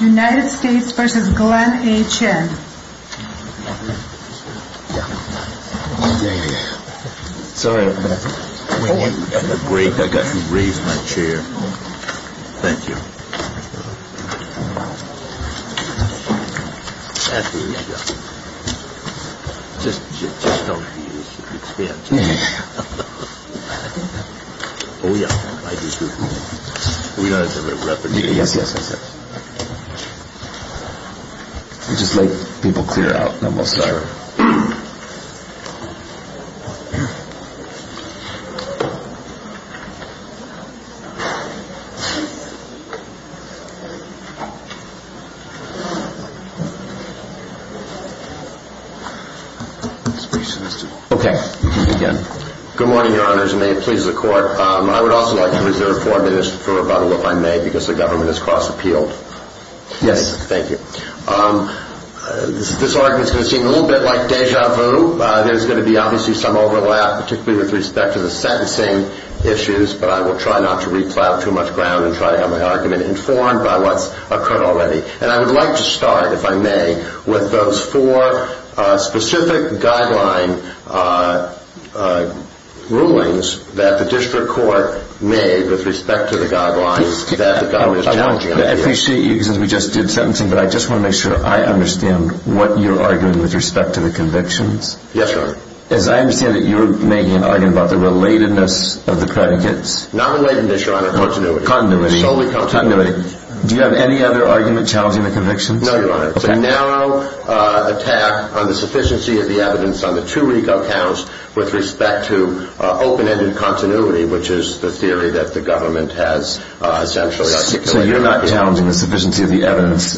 United States v. Glenn H.N. Good morning, Your Honors, and may it please the Court, I would also like to reserve four minutes for a rebuttal, if I may, because the government has cross-appealed. Yes. Thank you. This argument is going to seem a little bit like deja vu. There's going to be obviously some overlap, particularly with respect to the sentencing issues, but I will try not to re-plow too much ground and try to have my argument informed by what's occurred already. And I would like to start, if I may, with those four specific guideline rulings that the district court made with respect to the guidelines that the government is challenging. I appreciate you, because we just did sentencing, but I just want to make sure I understand what you're arguing with respect to the convictions. Yes, Your Honor. As I understand it, you're making an argument about the relatedness of the predicates. Not relatedness, Your Honor, continuity. Continuity. Solely continuity. Continuity. Do you have any other argument challenging the convictions? No, Your Honor. Okay. It's a narrow attack on the sufficiency of the evidence on the two RICO counts with respect to open-ended continuity, which is the theory that the government has essentially articulated in the appeal. So you're not challenging the sufficiency of the evidence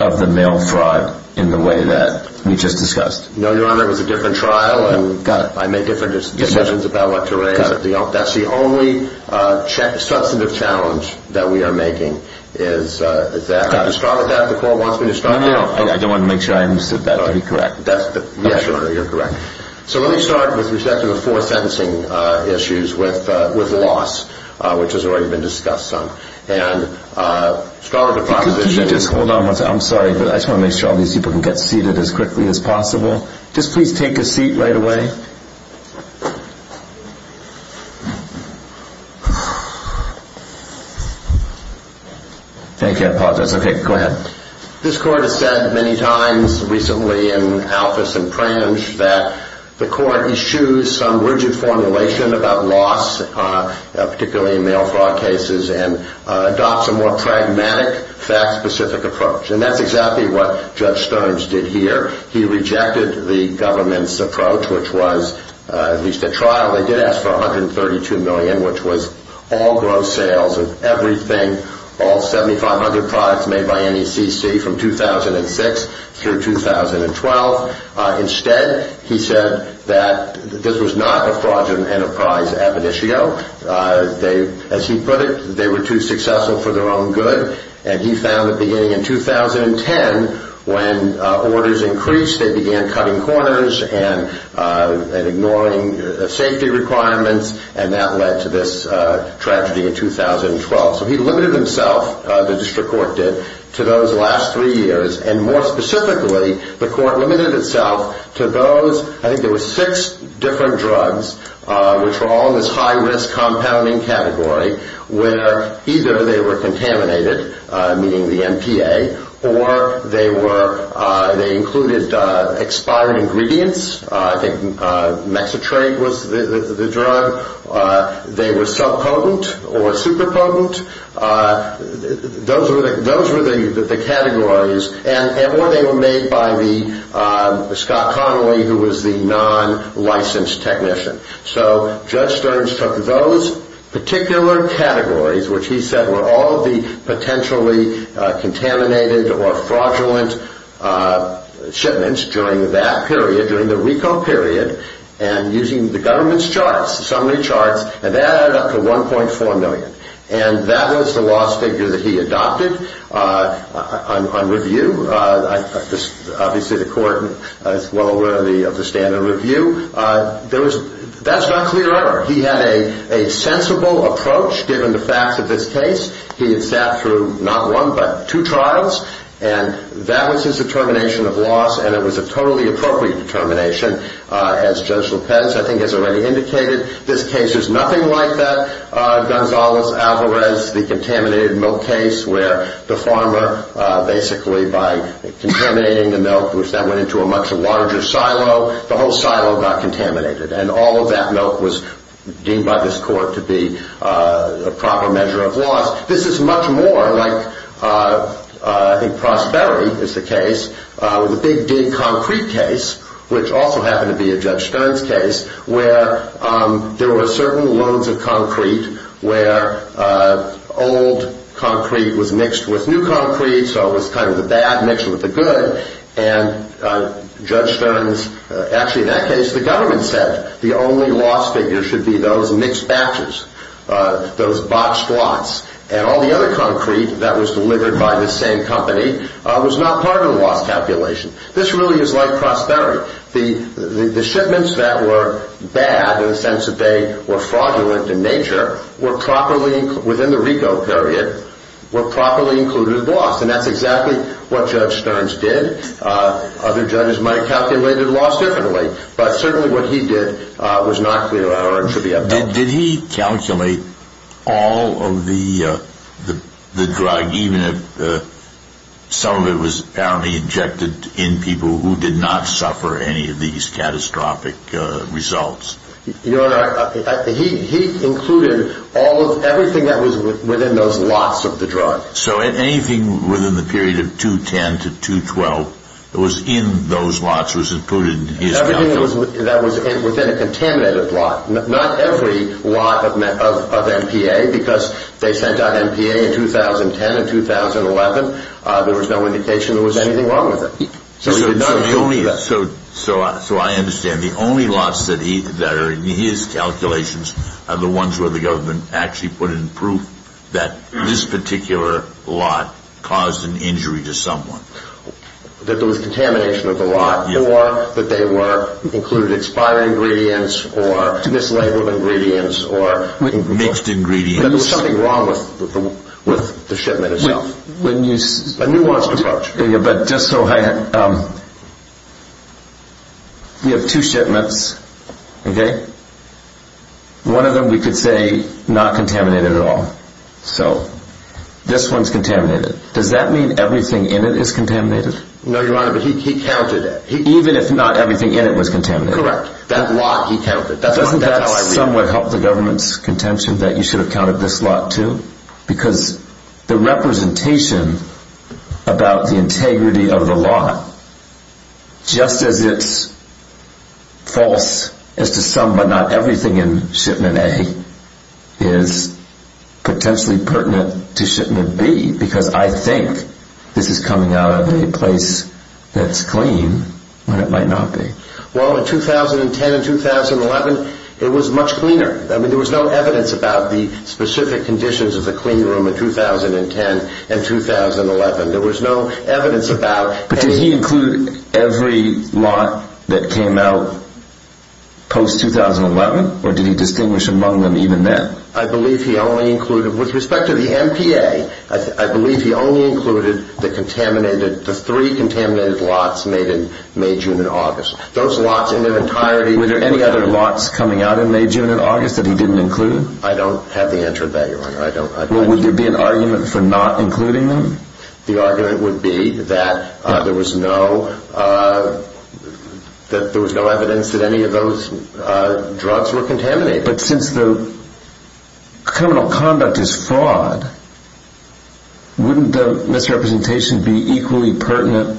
of the male fraud in the way that we just discussed? No, Your Honor. It was a different trial. Got it. I made different decisions about what to raise. Got it. That's the only substantive challenge that we are making, is that. Can you start with that, if the court wants me to start? No, no, no. I just want to make sure I understood that to be correct. Yes, Your Honor, you're correct. So let me start with respect to the four sentencing issues with loss, which has already been discussed some. Can you just hold on one second? I'm sorry, but I just want to make sure all these people can get seated as quickly as possible. Just please take a seat right away. Thank you. I apologize. Okay, go ahead. This court has said many times recently in Alphys and Prange that the court issues some rigid formulation about loss, particularly in male fraud cases, and adopts a more pragmatic, fact-specific approach. And that's exactly what Judge Stearns did here. He rejected the government's approach, which was, at least at trial, they did ask for $132 from 2006 through 2012. Instead, he said that this was not a fraudulent enterprise admonitio. As he put it, they were too successful for their own good. And he found that beginning in 2010, when orders increased, they began cutting corners and ignoring safety requirements, and that led to this tragedy in 2012. So he limited himself, the district court did, to those last three years. And more specifically, the court limited itself to those, I think there were six different drugs, which were all in this high-risk compounding category, where either they were contaminated, meaning the MPA, or they included expired ingredients. I think Mexitrate was the drug. Or they were subpotent or superpotent. Those were the categories. Or they were made by Scott Connolly, who was the non-licensed technician. So Judge Stearns took those particular categories, which he said were all the potentially contaminated or fraudulent shipments during that period, during the RICO period, and using the government's summary charts, and that added up to $1.4 million. And that was the loss figure that he adopted. On review, obviously the court is well aware of the standard of review, that's not clear either. He had a sensible approach, given the facts of this case. He had sat through not one, but two trials, and that was his determination of loss, and it was a totally appropriate determination, as Judge Lopez I think has already indicated. This case is nothing like that. Gonzales-Alvarez, the contaminated milk case, where the farmer, basically by contaminating the milk, that went into a much larger silo. The whole silo got contaminated, and all of that milk was deemed by this court to be a proper measure of loss. This is much more like, I think, Prosperity is the case, with the Big Dig concrete case, which also happened to be a Judge Stearns case, where there were certain loads of concrete, where old concrete was mixed with new concrete, so it was kind of the bad mixed with the good. And Judge Stearns, actually in that case, the government said the only loss figure should be those mixed batches, those boxed lots, and all the other concrete that was delivered by the same company was not part of the loss calculation. This really is like Prosperity. The shipments that were bad, in the sense that they were fraudulent in nature, were properly, within the RICO period, were properly included in the loss, and that's exactly what Judge Stearns did. Other judges might have calculated loss differently, but certainly what he did was not clear, or it should be upheld. Did he calculate all of the drug, even if some of it was apparently injected in people who did not suffer any of these catastrophic results? Your Honor, he included all of, everything that was within those lots of the drug. So anything within the period of 2010 to 2012 that was in those lots was included in his calculation? Anything that was within a contaminated lot. Not every lot of MPA, because they sent out MPA in 2010 and 2011, there was no indication there was anything wrong with it. So I understand, the only lots that are in his calculations are the ones where the government actually put in proof that this particular lot caused an injury to someone. That there was contamination of the lot, or that they included expired ingredients, or mislabeled ingredients, or mixed ingredients. That there was something wrong with the shipment itself. A nuanced approach. But just so I, we have two shipments, okay? One of them we could say, not contaminated at all. So, this one's contaminated. Does that mean everything in it is contaminated? No, Your Honor, but he counted it. Even if not everything in it was contaminated? Correct. That lot he counted. Doesn't that somewhat help the government's contention that you should have counted this lot too? Because the representation about the integrity of the lot, just as it's false as to some, but not everything in shipment A, is potentially pertinent to shipment B. Because I think this is coming out of a place that's clean when it might not be. Well, in 2010 and 2011, it was much cleaner. I mean, there was no evidence about the specific conditions of the clean room in 2010 and 2011. There was no evidence about... But did he include every lot that came out post-2011? Or did he distinguish among them even then? I believe he only included, with respect to the MPA, I believe he only included the three contaminated lots made in May, June, and August. Those lots in their entirety... Were there any other lots coming out in May, June, and August that he didn't include? I don't have the answer to that, Your Honor. Well, would there be an argument for not including them? The argument would be that there was no evidence that any of those drugs were contaminated. But since the criminal conduct is fraud, wouldn't the misrepresentation be equally pertinent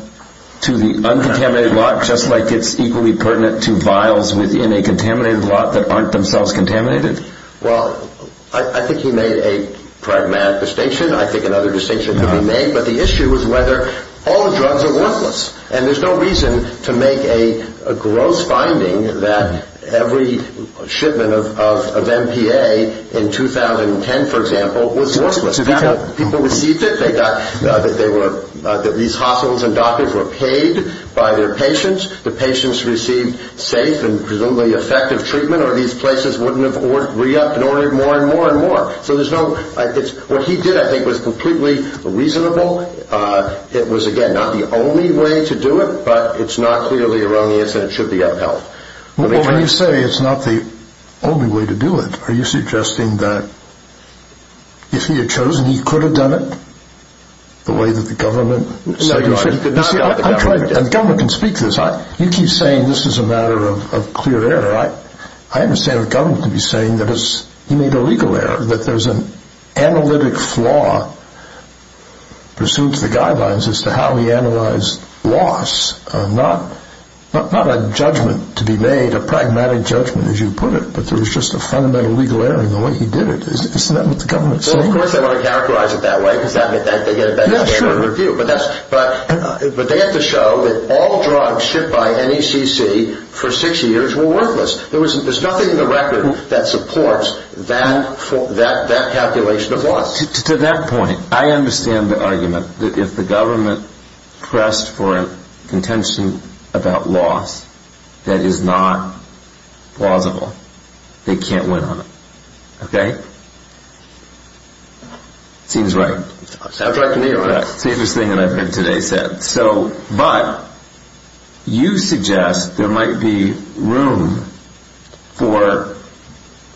to the uncontaminated lot, just like it's equally pertinent to vials within a contaminated lot that aren't themselves contaminated? Well, I think he made a pragmatic distinction. I think another distinction could be made. But the issue is whether all drugs are worthless. And there's no reason to make a gross finding that every shipment of MPA in 2010, for example, was worthless. People received it. These hospitals and doctors were paid by their patients. The patients received safe and presumably effective treatment, or these places wouldn't have re-ordered more and more and more. So there's no... What he did, I think, was completely reasonable. It was, again, not the only way to do it, but it's not clearly a wrong answer and it should be upheld. Well, when you say it's not the only way to do it, are you suggesting that if he had chosen, he could have done it the way that the government said he should? No, he could not have done it the government way. The government can speak to this. You keep saying this is a matter of clear error. I understand the government could be saying that he made a legal error, that there's an analytic flaw pursuant to the guidelines as to how he analyzed loss. Not a judgment to be made, a pragmatic judgment, as you put it, but there was just a fundamental legal error in the way he did it. Isn't that what the government's saying? Well, of course they want to characterize it that way, because they get a better standard of review. But they have to show that all drugs shipped by NECC for six years were worthless. There's nothing in the record that supports that calculation of loss. To that point, I understand the argument that if the government pressed for a contention about loss, that is not plausible. They can't win on it. Okay? It seems right. Sounds right to me. It's the easiest thing that I've heard today said. But you suggest there might be room for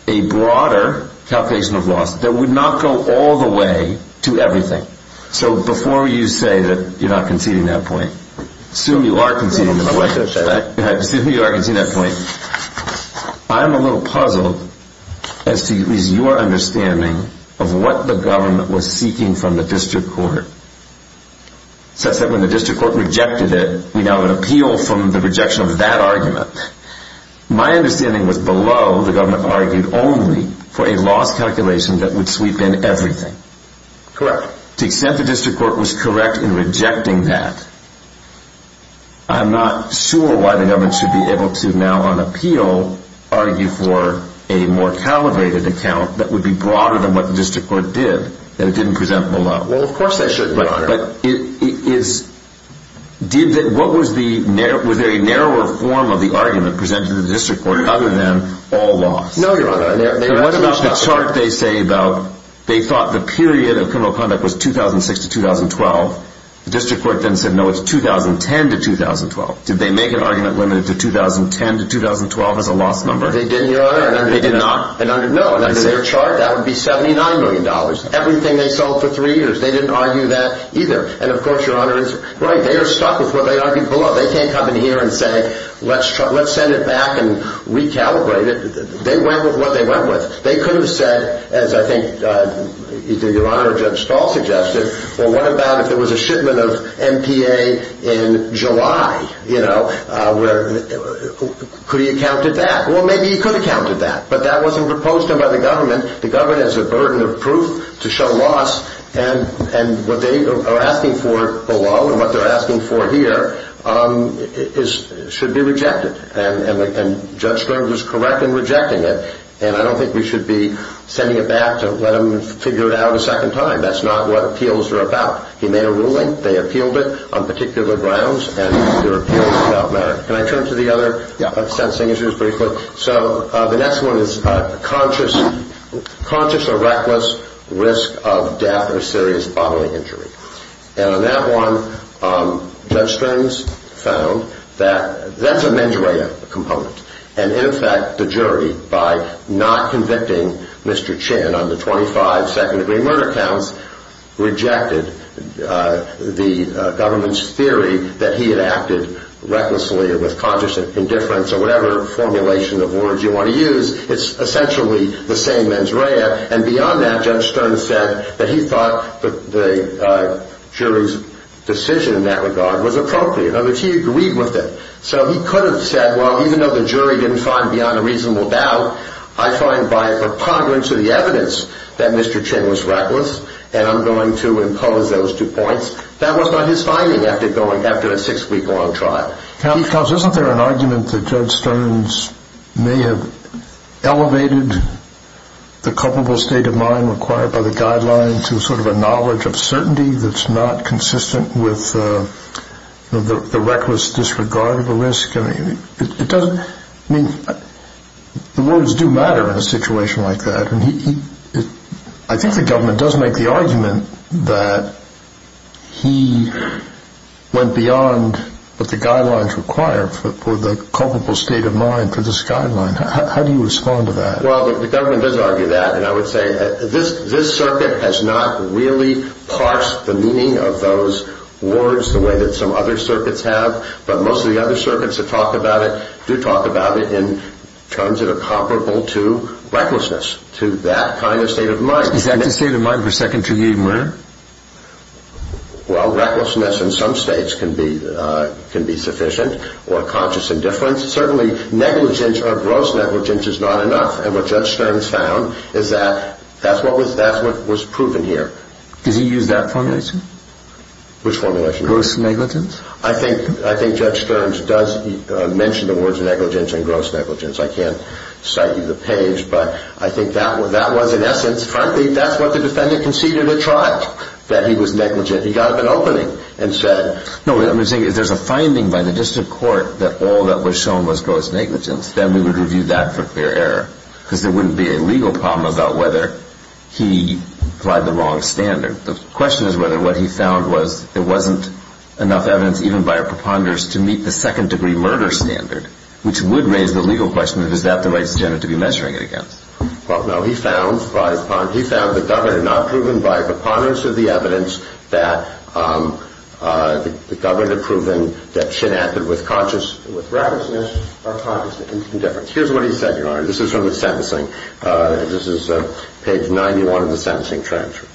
a broader calculation of loss that would not go all the way to everything. So before you say that you're not conceding that point, assume you are conceding in a way, assume you are conceding that point, I'm a little puzzled as to at least your understanding of what the government was seeking from the district court. Such that when the district court rejected it, we now have an appeal from the rejection of that argument. My understanding was below the government argued only for a loss calculation that would sweep in everything. Correct. To the extent the district court was correct in rejecting that, I'm not sure why the government should be able to now on appeal argue for a more calibrated account that would be broader than what the district court did, that it didn't present below. Well, of course they shouldn't, Your Honor. But what was the narrower form of the argument presented to the district court other than all loss? No, Your Honor. What about the chart they say about, they thought the period of criminal conduct was 2006 to 2012, the district court then said no, it's 2010 to 2012. Did they make an argument limited to 2010 to 2012 as a loss number? They didn't, Your Honor. They did not? No. Under their chart, that would be $79 million. Everything they sold for three years. They didn't argue that either. And of course, Your Honor, they are stuck with what they argued below. They can't come in here and say, let's send it back and recalibrate it. They went with what they went with. They could have said, as I think either Your Honor or Judge Stahl suggested, well, what about if there was a shipment of MPA in July, you know, could he have counted that? Well, maybe he could have counted that. But that wasn't proposed to him by the government. And the government has a burden of proof to show loss and what they are asking for below and what they're asking for here should be rejected. And Judge Stahl was correct in rejecting it. And I don't think we should be sending it back to let him figure it out a second time. That's not what appeals are about. He made a ruling, they appealed it on particular grounds, and their appeal is about merit. Can I turn to the other sentencing issues briefly? So the next one is conscious or reckless risk of death or serious bodily injury. And on that one, Judge Strang's found that that's a mens rea component. And in fact, the jury, by not convicting Mr. Chin on the 25 second-degree murder counts, rejected the government's theory that he had acted recklessly or with conscious indifference or whatever formulation of words you want to use. It's essentially the same mens rea. And beyond that, Judge Stern said that he thought the jury's decision in that regard was appropriate, and that he agreed with it. So he could have said, well, even though the jury didn't find beyond a reasonable doubt, I find by preponderance of the evidence that Mr. Chin was reckless, and I'm going to impose those two points. That was not his finding after a six-week-long trial. Counsel, isn't there an argument that Judge Stern's may have elevated the culpable state of mind required by the guidelines to sort of a knowledge of certainty that's not consistent with the reckless disregard of the risk? I mean, the words do matter in a situation like that. I think the government does make the argument that he went beyond what the guidelines require for the culpable state of mind for this guideline. How do you respond to that? Well, the government does argue that, and I would say this circuit has not really parsed the meaning of those words the way that some other circuits have, but most of the other circuits that talk about it do talk about it in terms that are comparable to recklessness, to that kind of state of mind. Is that the state of mind for second degree murder? Well, recklessness in some states can be sufficient, or conscious indifference. Certainly negligence or gross negligence is not enough, and what Judge Stern's found is that that's what was proven here. Does he use that formulation? Which formulation? Gross negligence? I think Judge Stern's does mention the words negligence and gross negligence. I can't cite you the page, but I think that was, in essence, frankly, that's what the defendant conceded or tried, that he was negligent. He got up in opening and said... No, what I'm saying is there's a finding by the district court that all that was shown was gross negligence. Then we would review that for clear error, because there wouldn't be a legal problem about whether he applied the wrong standard. The question is whether what he found was there wasn't enough evidence, even by our preponderance, to meet the second degree murder standard, which would raise the legal question of, is that the right standard to be measuring it against? Well, no. He found the government had not proven, by preponderance of the evidence, that the government had proven that chin acted with recklessness or conscious indifference. Here's what he said, Your Honor. This is from the sentencing. This is page 91 of the sentencing transcript.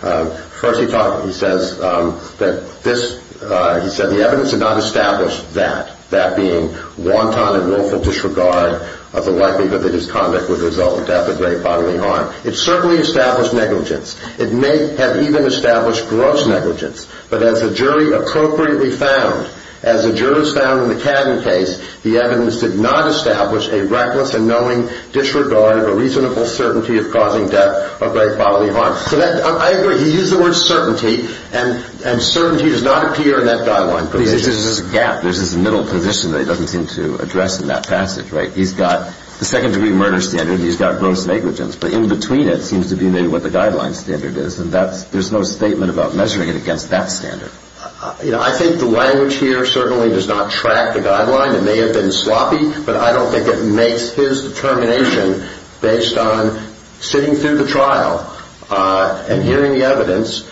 First, he says that the evidence had not established that, that being wanton and willful disregard of the likelihood that his conduct would result in death or grave bodily harm. It certainly established negligence. It may have even established gross negligence. But as the jury appropriately found, as the jurors found in the Cadden case, the evidence did not establish a reckless and knowing disregard or reasonable certainty of causing death or grave bodily harm. I agree. He used the word certainty, and certainty does not appear in that guideline provision. There's a gap. There's this middle position that he doesn't seem to address in that passage, right? He's got the second-degree murder standard, and he's got gross negligence, but in between it seems to be maybe what the guideline standard is, and there's no statement about measuring it against that standard. I think the language here certainly does not track the guideline. It may have been sloppy, but I don't think it makes his determination based on sitting through the trial and hearing the evidence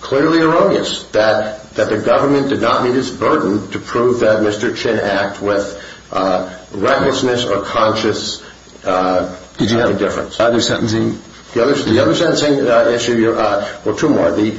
clearly erroneous, that the government did not meet its burden to prove that Mr. Chinn act with recklessness or conscious indifference. Did you have other sentencing? The other sentencing issue, or two more, the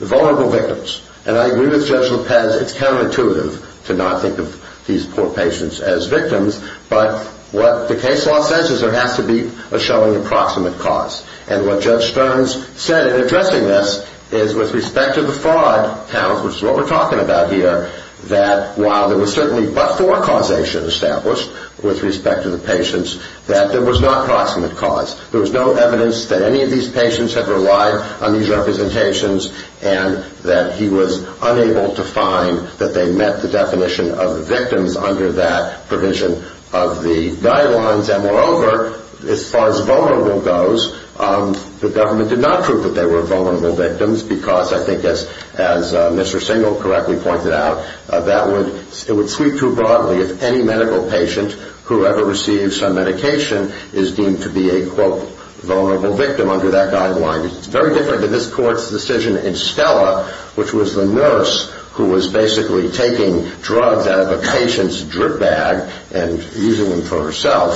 vulnerable victims. And I agree with Judge Lopez, it's counterintuitive to not think of these poor patients as victims, but what the case law says is there has to be a showing approximate cause. And what Judge Stearns said in addressing this is with respect to the fraud counts, which is what we're talking about here, that while there was certainly but-for causation established with respect to the patients, that there was not proximate cause. There was no evidence that any of these patients had relied on these representations, and that he was unable to find that they met the definition of victims under that provision of the guidelines. And moreover, as far as vulnerable goes, the government did not prove that they were vulnerable victims because, I think, as Mr. Singel correctly pointed out, it would sweep too broadly if any medical patient, whoever received some medication, is deemed to be a, quote, vulnerable victim under that guideline. It's very different to this court's decision in Stella, which was the nurse who was basically taking drugs out of a patient's drip bag and using them for herself.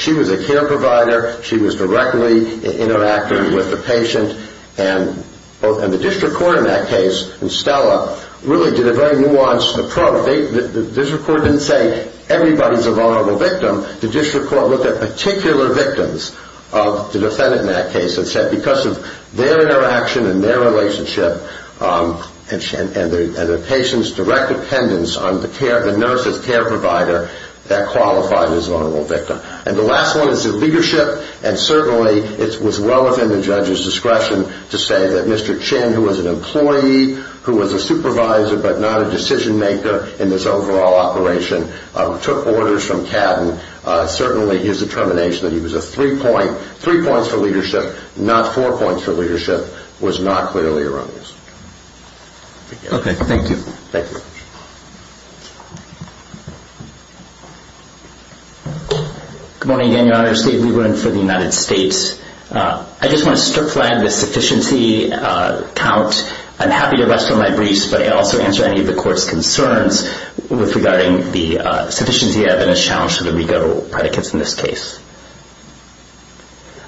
She was a care provider. She was directly interacting with the patient. And the district court in that case, in Stella, really did a very nuanced approach. The district court didn't say, everybody's a vulnerable victim. The district court looked at particular victims of the defendant in that case and said, because of their interaction and their relationship and the patient's direct dependence on the nurse as care provider, that qualified as a vulnerable victim. And the last one is the leadership. And certainly, it was well within the judge's discretion to say that Mr. Chin, who was an employee, who was a supervisor, but not a decision maker in this overall operation, took orders from Cadden. Certainly, his determination that he was a three points for leadership, not four points for leadership, was not clearly erroneous. Thank you. Good morning again, Your Honor. Steve Lieberman for the United States. I just want to strip flag the sufficiency count. I'm happy to rest on my briefs, but I also answer any of the court's concerns regarding the sufficiency evidence challenge for the regal predicates in this case.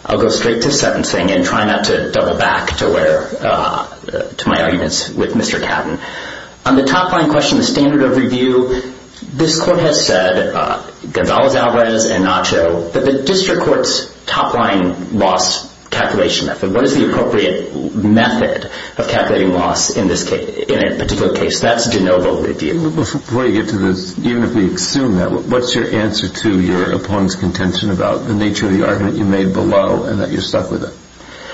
I'll go straight to sentencing and try not to double back to my arguments with Mr. Cadden. On the top line question, the standard of review, this court has said Gonzales-Alvarez and Nacho that the district court's top line loss calculation method, what is the appropriate method of calculating loss in a particular case? That's de novo. Even if we assume that, what's your answer to your opponent's contention about the nature of the argument you made below and that you're stuck with it?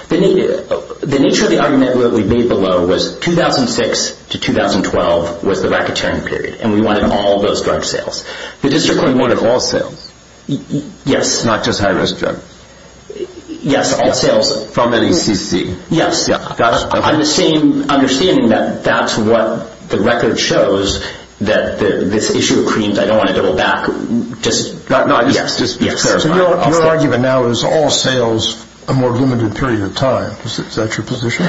The nature of the argument we made below was 2006 to 2012 was the racketeering period, and we wanted all those drug sales. The district court wanted all sales? Yes. Not just high-risk drugs? Yes, all sales. From NACC? Yes. Understanding that that's what the record shows, that this issue of creams, I don't want to double back. Your argument now is all sales a more limited period of time. Is that your position?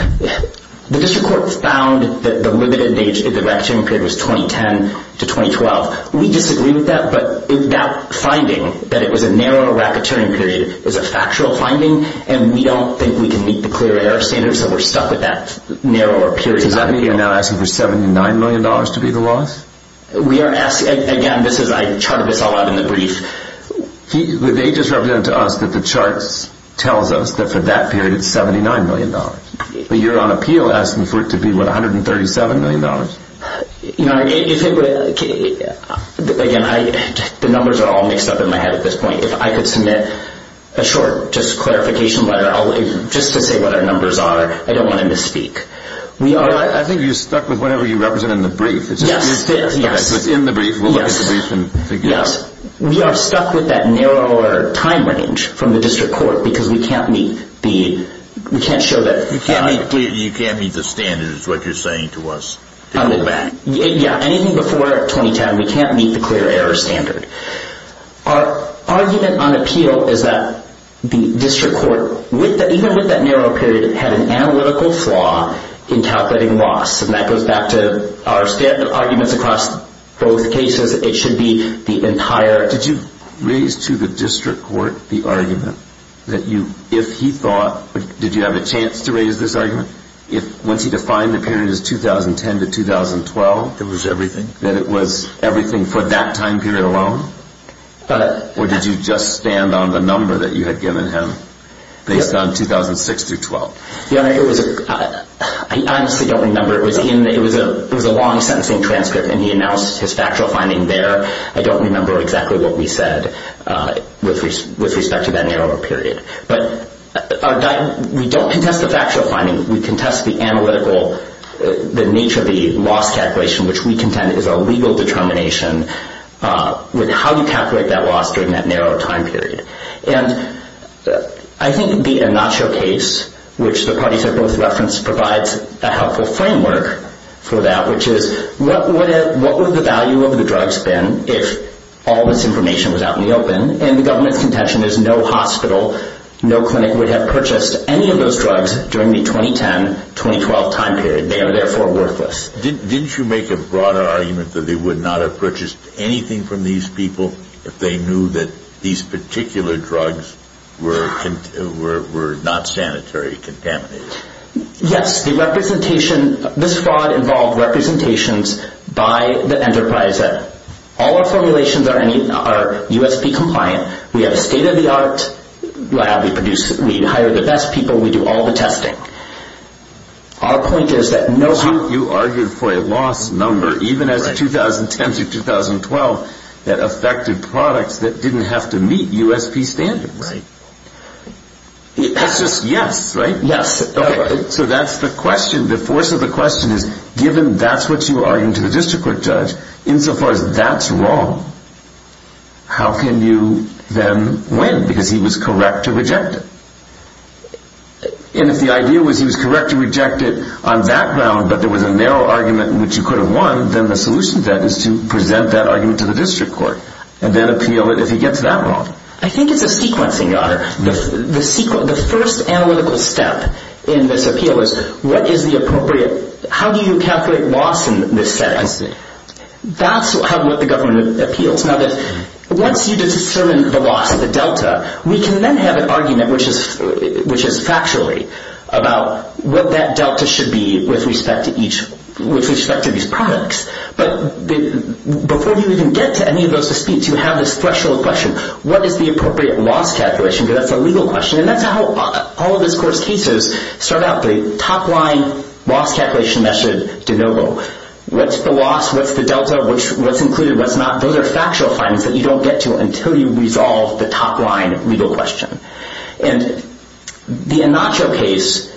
The district court found that the limited racketeering period was 2010 to 2012. We disagree with that, but that finding that it was a narrower racketeering period was a factual finding and we don't think we can meet the clear error standard so we're stuck with that narrower period. Does that mean you're now asking for $79 million to be the loss? Again, I charted this all out in the brief. They just represented to us that the chart tells us that for that period it's $79 million. You're on appeal asking for it to be $137 million. Again, the numbers are all mixed up in my head at this point. If I could submit a short clarification letter just to say what our numbers are. I don't want to misspeak. I think you're stuck with whatever you represent in the brief. Yes. We are stuck with that narrower time range from the district court because we can't meet the standard. Anything before 2010 we can't meet the clear error standard. Our argument on appeal is that the district court even with that narrow period had an analytical flaw in calculating loss. That goes back to our arguments across both cases. Did you raise to the district court the argument that if he thought did you have a chance to raise this argument once he defined the period as 2010 to 2012 that it was everything for that time period alone? Or did you just stand on the number that you had given him based on 2006 through 2012? I honestly don't remember. It was a long sentencing transcript and he announced his factual finding there. I don't remember exactly what we said with respect to that narrower period. We don't contest the factual finding. We contest the analytical the nature of the loss calculation which we contend is a legal determination with how you calculate that loss during that narrow time period. I think the Anacho case which the parties have both referenced provides a helpful framework for that which is what would the value of the drugs been if all this information was out in the open and the government's contention is no hospital, no clinic would have purchased any of those drugs during the 2010-2012 time period. They are therefore worthless. Didn't you make a broader argument that they would not have purchased anything from these people if they knew that these particular drugs were not sanitary contaminated? Yes, the representation this fraud involved representations by the enterprise. All our formulations are USP compliant. We have a state of the art lab. We hire the best people. We do all the testing. Our point is that no... You argued for a loss number even as 2010-2012 that affected products that didn't have to meet USP standards. That's just yes, right? So that's the question. The force of the question is given that's what you argued to the district court judge insofar as that's wrong how can you then win? Because he was correct to reject it. And if the idea was he was correct to reject it on background but there was a narrow argument which you could have won then the solution to that is to present that argument to the district court and then appeal it if he gets that wrong. I think it's a sequencing. The first analytical step in this appeal is how do you calculate loss in this setting? That's how the government appeals. Once you determine the loss of the delta, we can then have an argument which is factually about what that delta should be with respect to each with respect to these products. But before you even get to any of those disputes you have this threshold question. What is the appropriate loss calculation? Because that's a legal question. And that's how all of this court's cases start out. The top line loss calculation method de novo. What's the loss? What's the delta? What's included? What's not? Those are factual findings that you don't get to until you resolve the top line legal question. And the Anacho case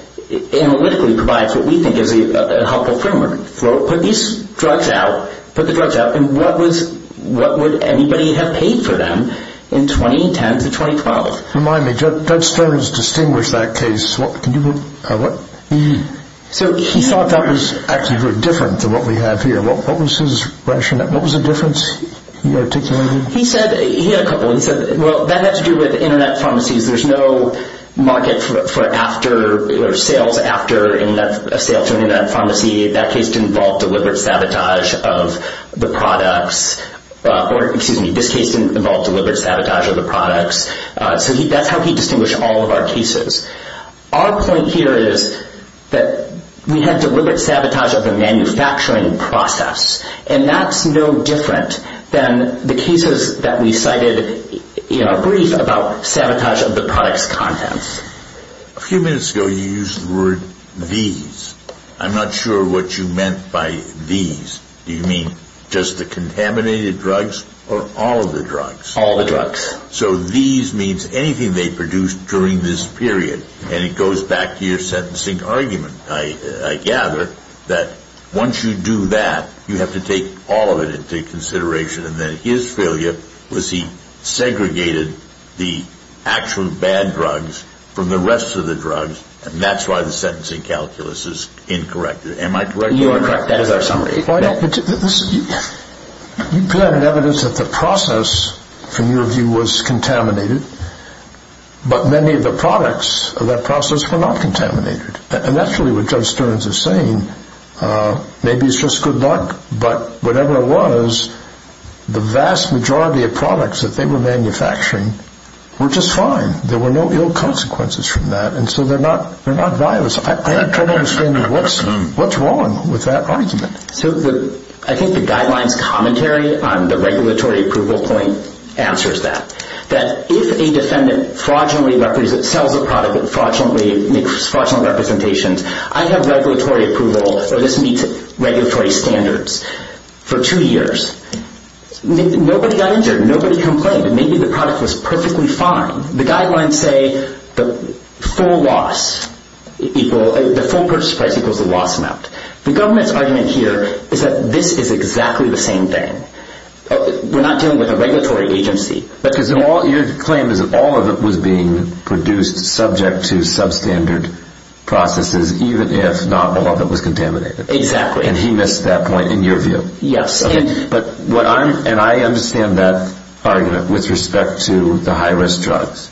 analytically provides what we think is a helpful framework. Put these drugs out. Put the drugs out. And what was what would anybody have paid for them in 2010 to 2012? Remind me, Judge Stearns distinguished that case. So he thought that was actually very different to what we have here. What was his what was the difference he articulated? He said, he had a couple. He said well that had to do with internet pharmacies there's no market for after, or sales after a sale to an internet pharmacy that case didn't involve deliberate sabotage of the products or excuse me, this case didn't involve deliberate sabotage of the products so that's how he distinguished all of our cases. Our point here is that we have a manufacturing process and that's no different than the cases that we cited in our brief about sabotage of the products contents. A few minutes ago you used the word these. I'm not sure what you meant by these. Do you mean just the contaminated drugs or all of the drugs? All of the drugs. So these means anything they produced during this period. And it goes back to your sentencing argument. I gather that once you do that, you have to take all of it into consideration and then his failure was he segregated the actual bad drugs from the rest of the drugs and that's why the sentencing calculus is incorrect. Am I correct? You are correct. You provided evidence that the process from your view was contaminated but many of the products of that process were not contaminated. And that's really what Judge Stearns is saying. Maybe it's just good luck but whatever it was the vast majority of products that they were manufacturing were just fine. There were no ill consequences from that and so they're not violent. I have trouble understanding what's wrong with that argument. I think the guidelines commentary on the regulatory approval point answers that. That if a defendant fraudulently sells a product that fraudulently makes fraudulent representations I have regulatory approval that this meets regulatory standards for two years. Nobody got injured. Nobody complained. Maybe the product was perfectly fine. The guidelines say the full loss the full purchase price equals the loss amount. The government's argument here is that this is exactly the same thing. We're not dealing with a regulatory agency. Your claim is that all of it was being produced subject to substandard processes even if not all of it was contaminated. Exactly. And he missed that point in your view. Yes. And I understand that argument with respect to the high risk drugs.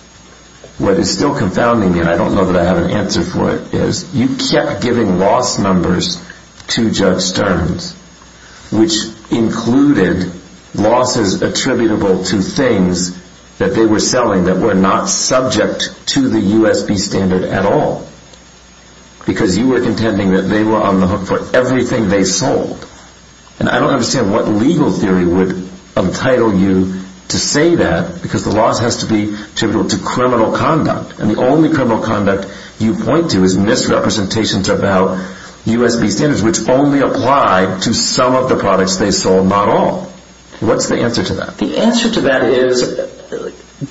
What is still confounding me and I don't know that I have an answer for it is you kept giving loss numbers to Judge Stearns which included losses attributable to things that they were selling that were not subject to the U.S.B. standard at all. Because you were contending that they were on the hook for everything they sold. And I don't understand what legal theory would entitle you to say that because the loss has to be attributable to criminal conduct. And the only criminal conduct you point to is misrepresentations about U.S.B. standards which only apply to some of the products they sold and not all. What's the answer to that? The answer to that is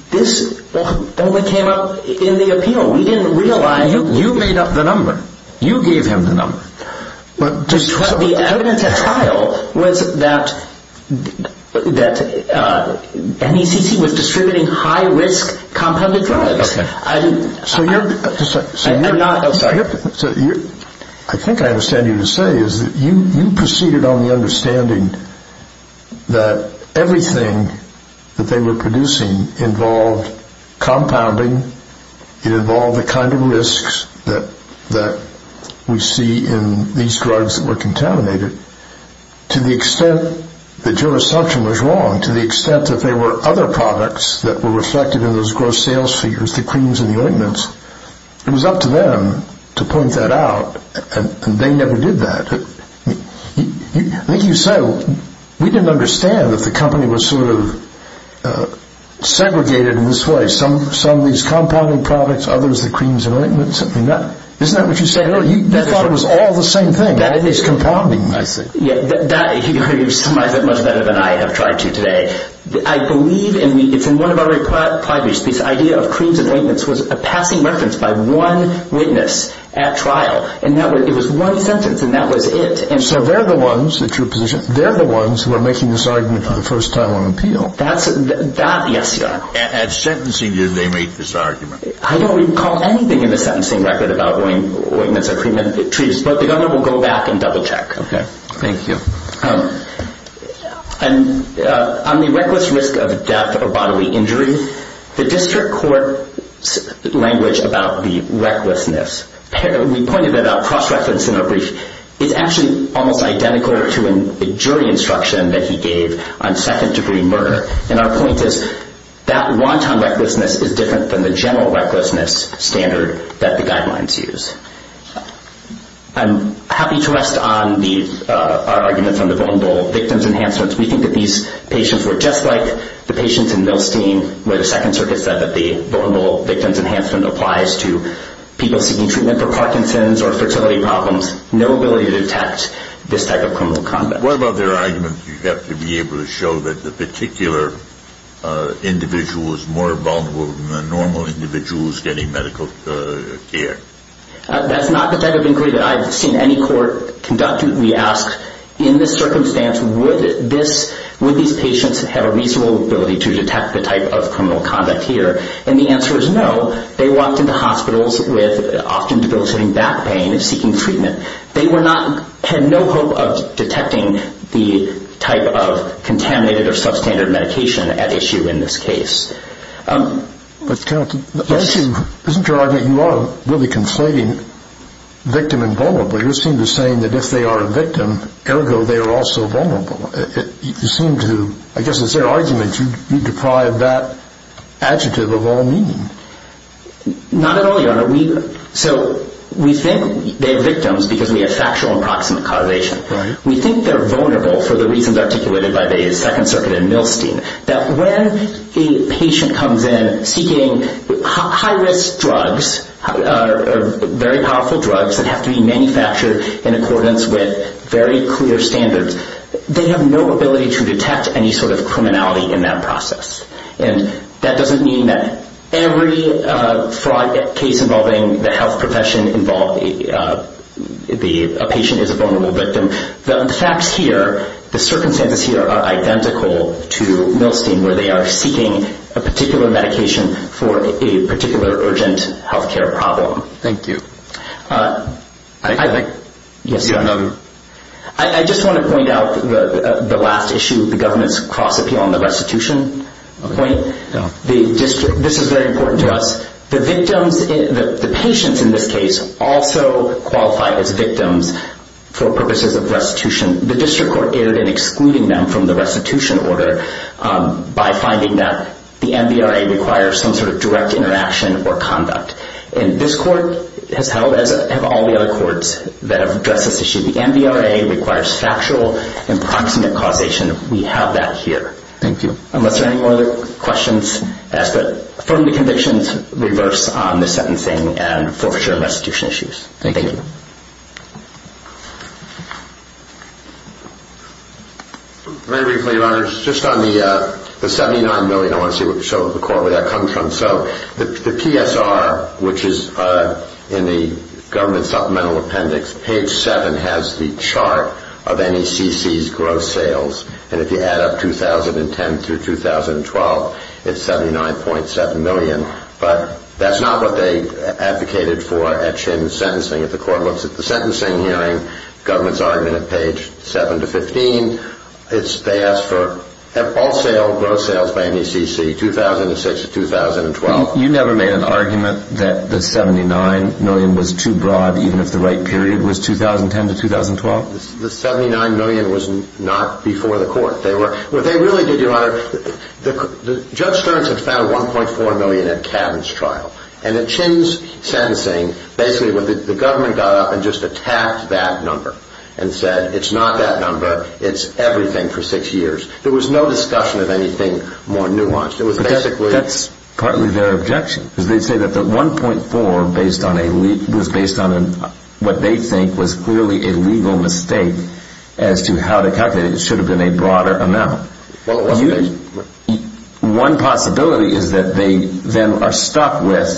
this only came up in the appeal. We didn't realize You made up the number. You gave him the number. The evidence at trial was that that NECC was distributing high risk compounded drugs. So you're I think I understand you to say is that you proceeded on the understanding that everything that they were producing involved compounding it involved the kind of risks that we see in these drugs that were contaminated to the extent that your assumption was wrong, to the extent that there were other products that were reflected in those gross sales figures, the creams and the ointments it was up to them to point that out and they never did that I think you say we didn't understand that the company was sort of segregated in this way some of these compounding products, others the creams and ointments Isn't that what you said earlier? You thought it was all the same thing that it was compounding You've summarized it much better than I have tried to today I believe, and it's in one of our requirements, this idea of creams and ointments was a passing reference by one witness at trial and that was it So they're the ones who are making this argument for the first time on appeal At sentencing did they make this argument? I don't recall anything in the sentencing record about ointments or creams but the governor will go back and double check Thank you On the reckless risk of death or bodily injury the district court language about the recklessness we pointed that out cross-reference in our brief it's actually almost identical to a jury instruction that he gave on second degree murder and our point is that wanton recklessness is different than the general recklessness standard that the guidelines use I'm happy to rest on our arguments on the vulnerable victims enhancements. We think that these patients were just like the patients in Milstein where the second circuit said that the victims enhancement applies to people seeking treatment for Parkinson's or fertility problems. No ability to detect this type of criminal conduct What about their argument that you have to be able to show that the particular individual is more vulnerable than the normal individuals getting medical care That's not the type of inquiry that I've seen any court conduct In this circumstance would these patients have a reasonable ability to detect the type of criminal conduct here? The answer is no. They walked into hospitals with often debilitating back pain seeking treatment They had no hope of detecting the type of contaminated or substandard medication at issue in this case Isn't your argument that you are really conflating victim and vulnerable You seem to be saying that if they are a victim ergo they are also vulnerable I guess it's their argument you deprive that adjective of all meaning Not at all your honor So we think they are victims because we have factual and proximate causation We think they are vulnerable for the reasons articulated by the second circuit in Milstein that when a patient comes in seeking high risk drugs very powerful drugs that have to be manufactured in accordance with very clear standards they have no ability to detect any sort of criminality in that process That doesn't mean that every fraud case involving the health profession involves a patient as a vulnerable victim The facts here, the circumstances here are identical to Milstein where they are seeking a particular medication for a particular urgent health care problem Thank you I Yes your honor I just want to point out the last issue, the government's cross appeal on the restitution point This is very important to us The victims the patients in this case also qualify as victims for purposes of restitution The district court erred in excluding them from the restitution order by finding that the NBRA requires some sort of direct interaction or conduct This court has held as have all the other courts that have addressed this issue The NBRA requires factual and proximate causation We have that here Thank you Unless there are any other questions I ask that the convictions be reversed on the sentencing and restitution issues Thank you Very briefly your honor Just on the $79 million I want to show the court where that comes from The PSR which is in the government supplemental appendix Page 7 has the chart of NECC's gross sales If you add up 2010 to 2012 It's $79.7 million That's not what they advocated for at sentence If the court looks at the sentencing hearing government's argument at page 7 to 15 They ask for All sales, gross sales by NECC 2006 to 2012 You never made an argument that the $79 million was too broad even if the right period was 2010 to 2012? The $79 million was not before the court What they really did your honor Judge Stearns had found $1.4 million at Cabin's trial And at Chin's sentencing basically the government got up and just attacked that number and said it's not that number It's everything for 6 years There was no discussion of anything more nuanced That's partly their objection They say that $1.4 was based on what they think was clearly a legal mistake as to how they calculated It should have been a broader amount One possibility is that they then are stuck with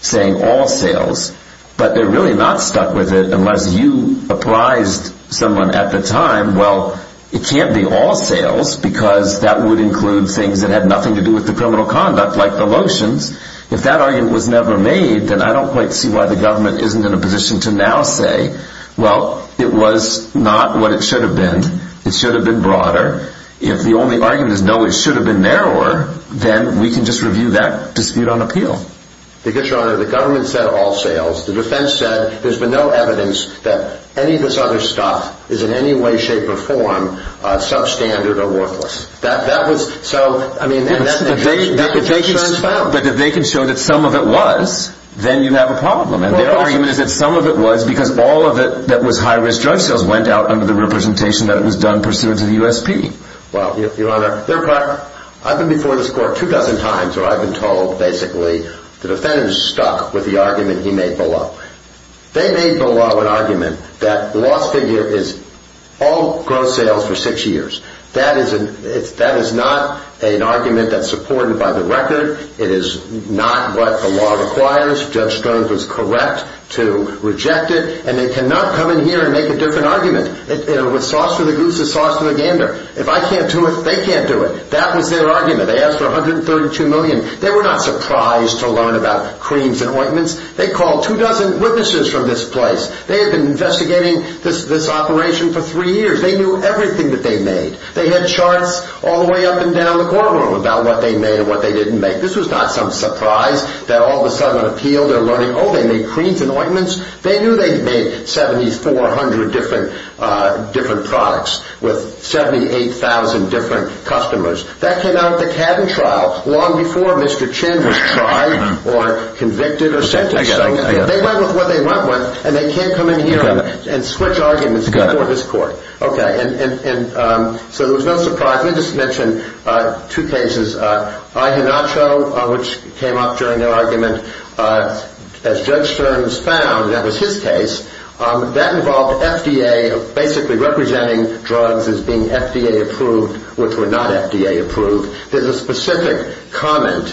saying all sales but they're really not stuck with it unless you apprised someone at the time Well, it can't be all sales because that would include things that had nothing to do with the criminal conduct like the lotions If that argument was never made then I don't quite see why the government isn't in a position to now say Well, it was not what it should have been It should have been broader If the only argument is no, it should have been narrower then we can just review that dispute on appeal Because your honor, the government said all sales The defense said There's been no evidence that any of this other stuff is in any way, shape, or form substandard or worthless If they can show that some of it was then you have a problem Their argument is that some of it was because all of it that was high risk drug sales went out under the representation that it was done pursuant to the USP I've been before this court two dozen times where I've been told basically The defendant is stuck with the argument he made below They made below an argument that the lost figure is all gross sales for six years That is not an argument that's supported by the record It is not what the law requires Judge Stearns was correct to reject it and they cannot come in here and make a different argument With sauce for the goose and sauce for the gander If I can't do it, they can't do it That was their argument They asked for $132 million They were not surprised to learn about creams and ointments They called two dozen witnesses from this place They had been investigating this operation for three years They knew everything that they made They had charts all the way up and down the courtroom about what they made and what they didn't make This was not some surprise that all of a sudden it appealed Oh, they made creams and ointments They knew they made 7,400 different products with 78,000 different customers That came out of the CABIN trial long before Mr. Chin was tried or convicted They went with what they went with and they can't come in here and switch arguments before this court So there was no surprise Let me just mention two cases IHINACHO which came up during their argument As Judge Stearns found and that was his case that involved FDA basically representing drugs as being FDA approved which were not FDA approved There's a specific comment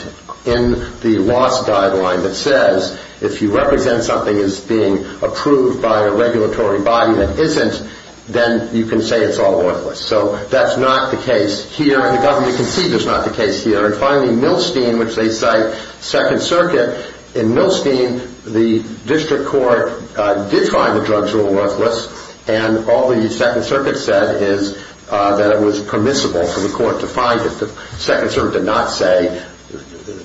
in the loss guideline that says if you represent something as being approved by a regulatory body that isn't then you can say it's all worthless So that's not the case here The government concedes it's not the case here And finally Milstein which they cite 2nd Circuit In Milstein the district court did find the drugs were worthless and all the 2nd Circuit said is that it was permissible for the court to find it The 2nd Circuit did not say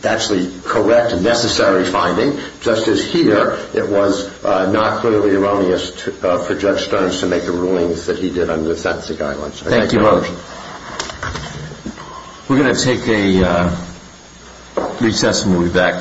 that's the correct and necessary finding Just as here it was not clearly erroneous for Judge Stearns to make the rulings that he did under the sentencing guidelines Thank you very much We're going to take a recess and we'll be back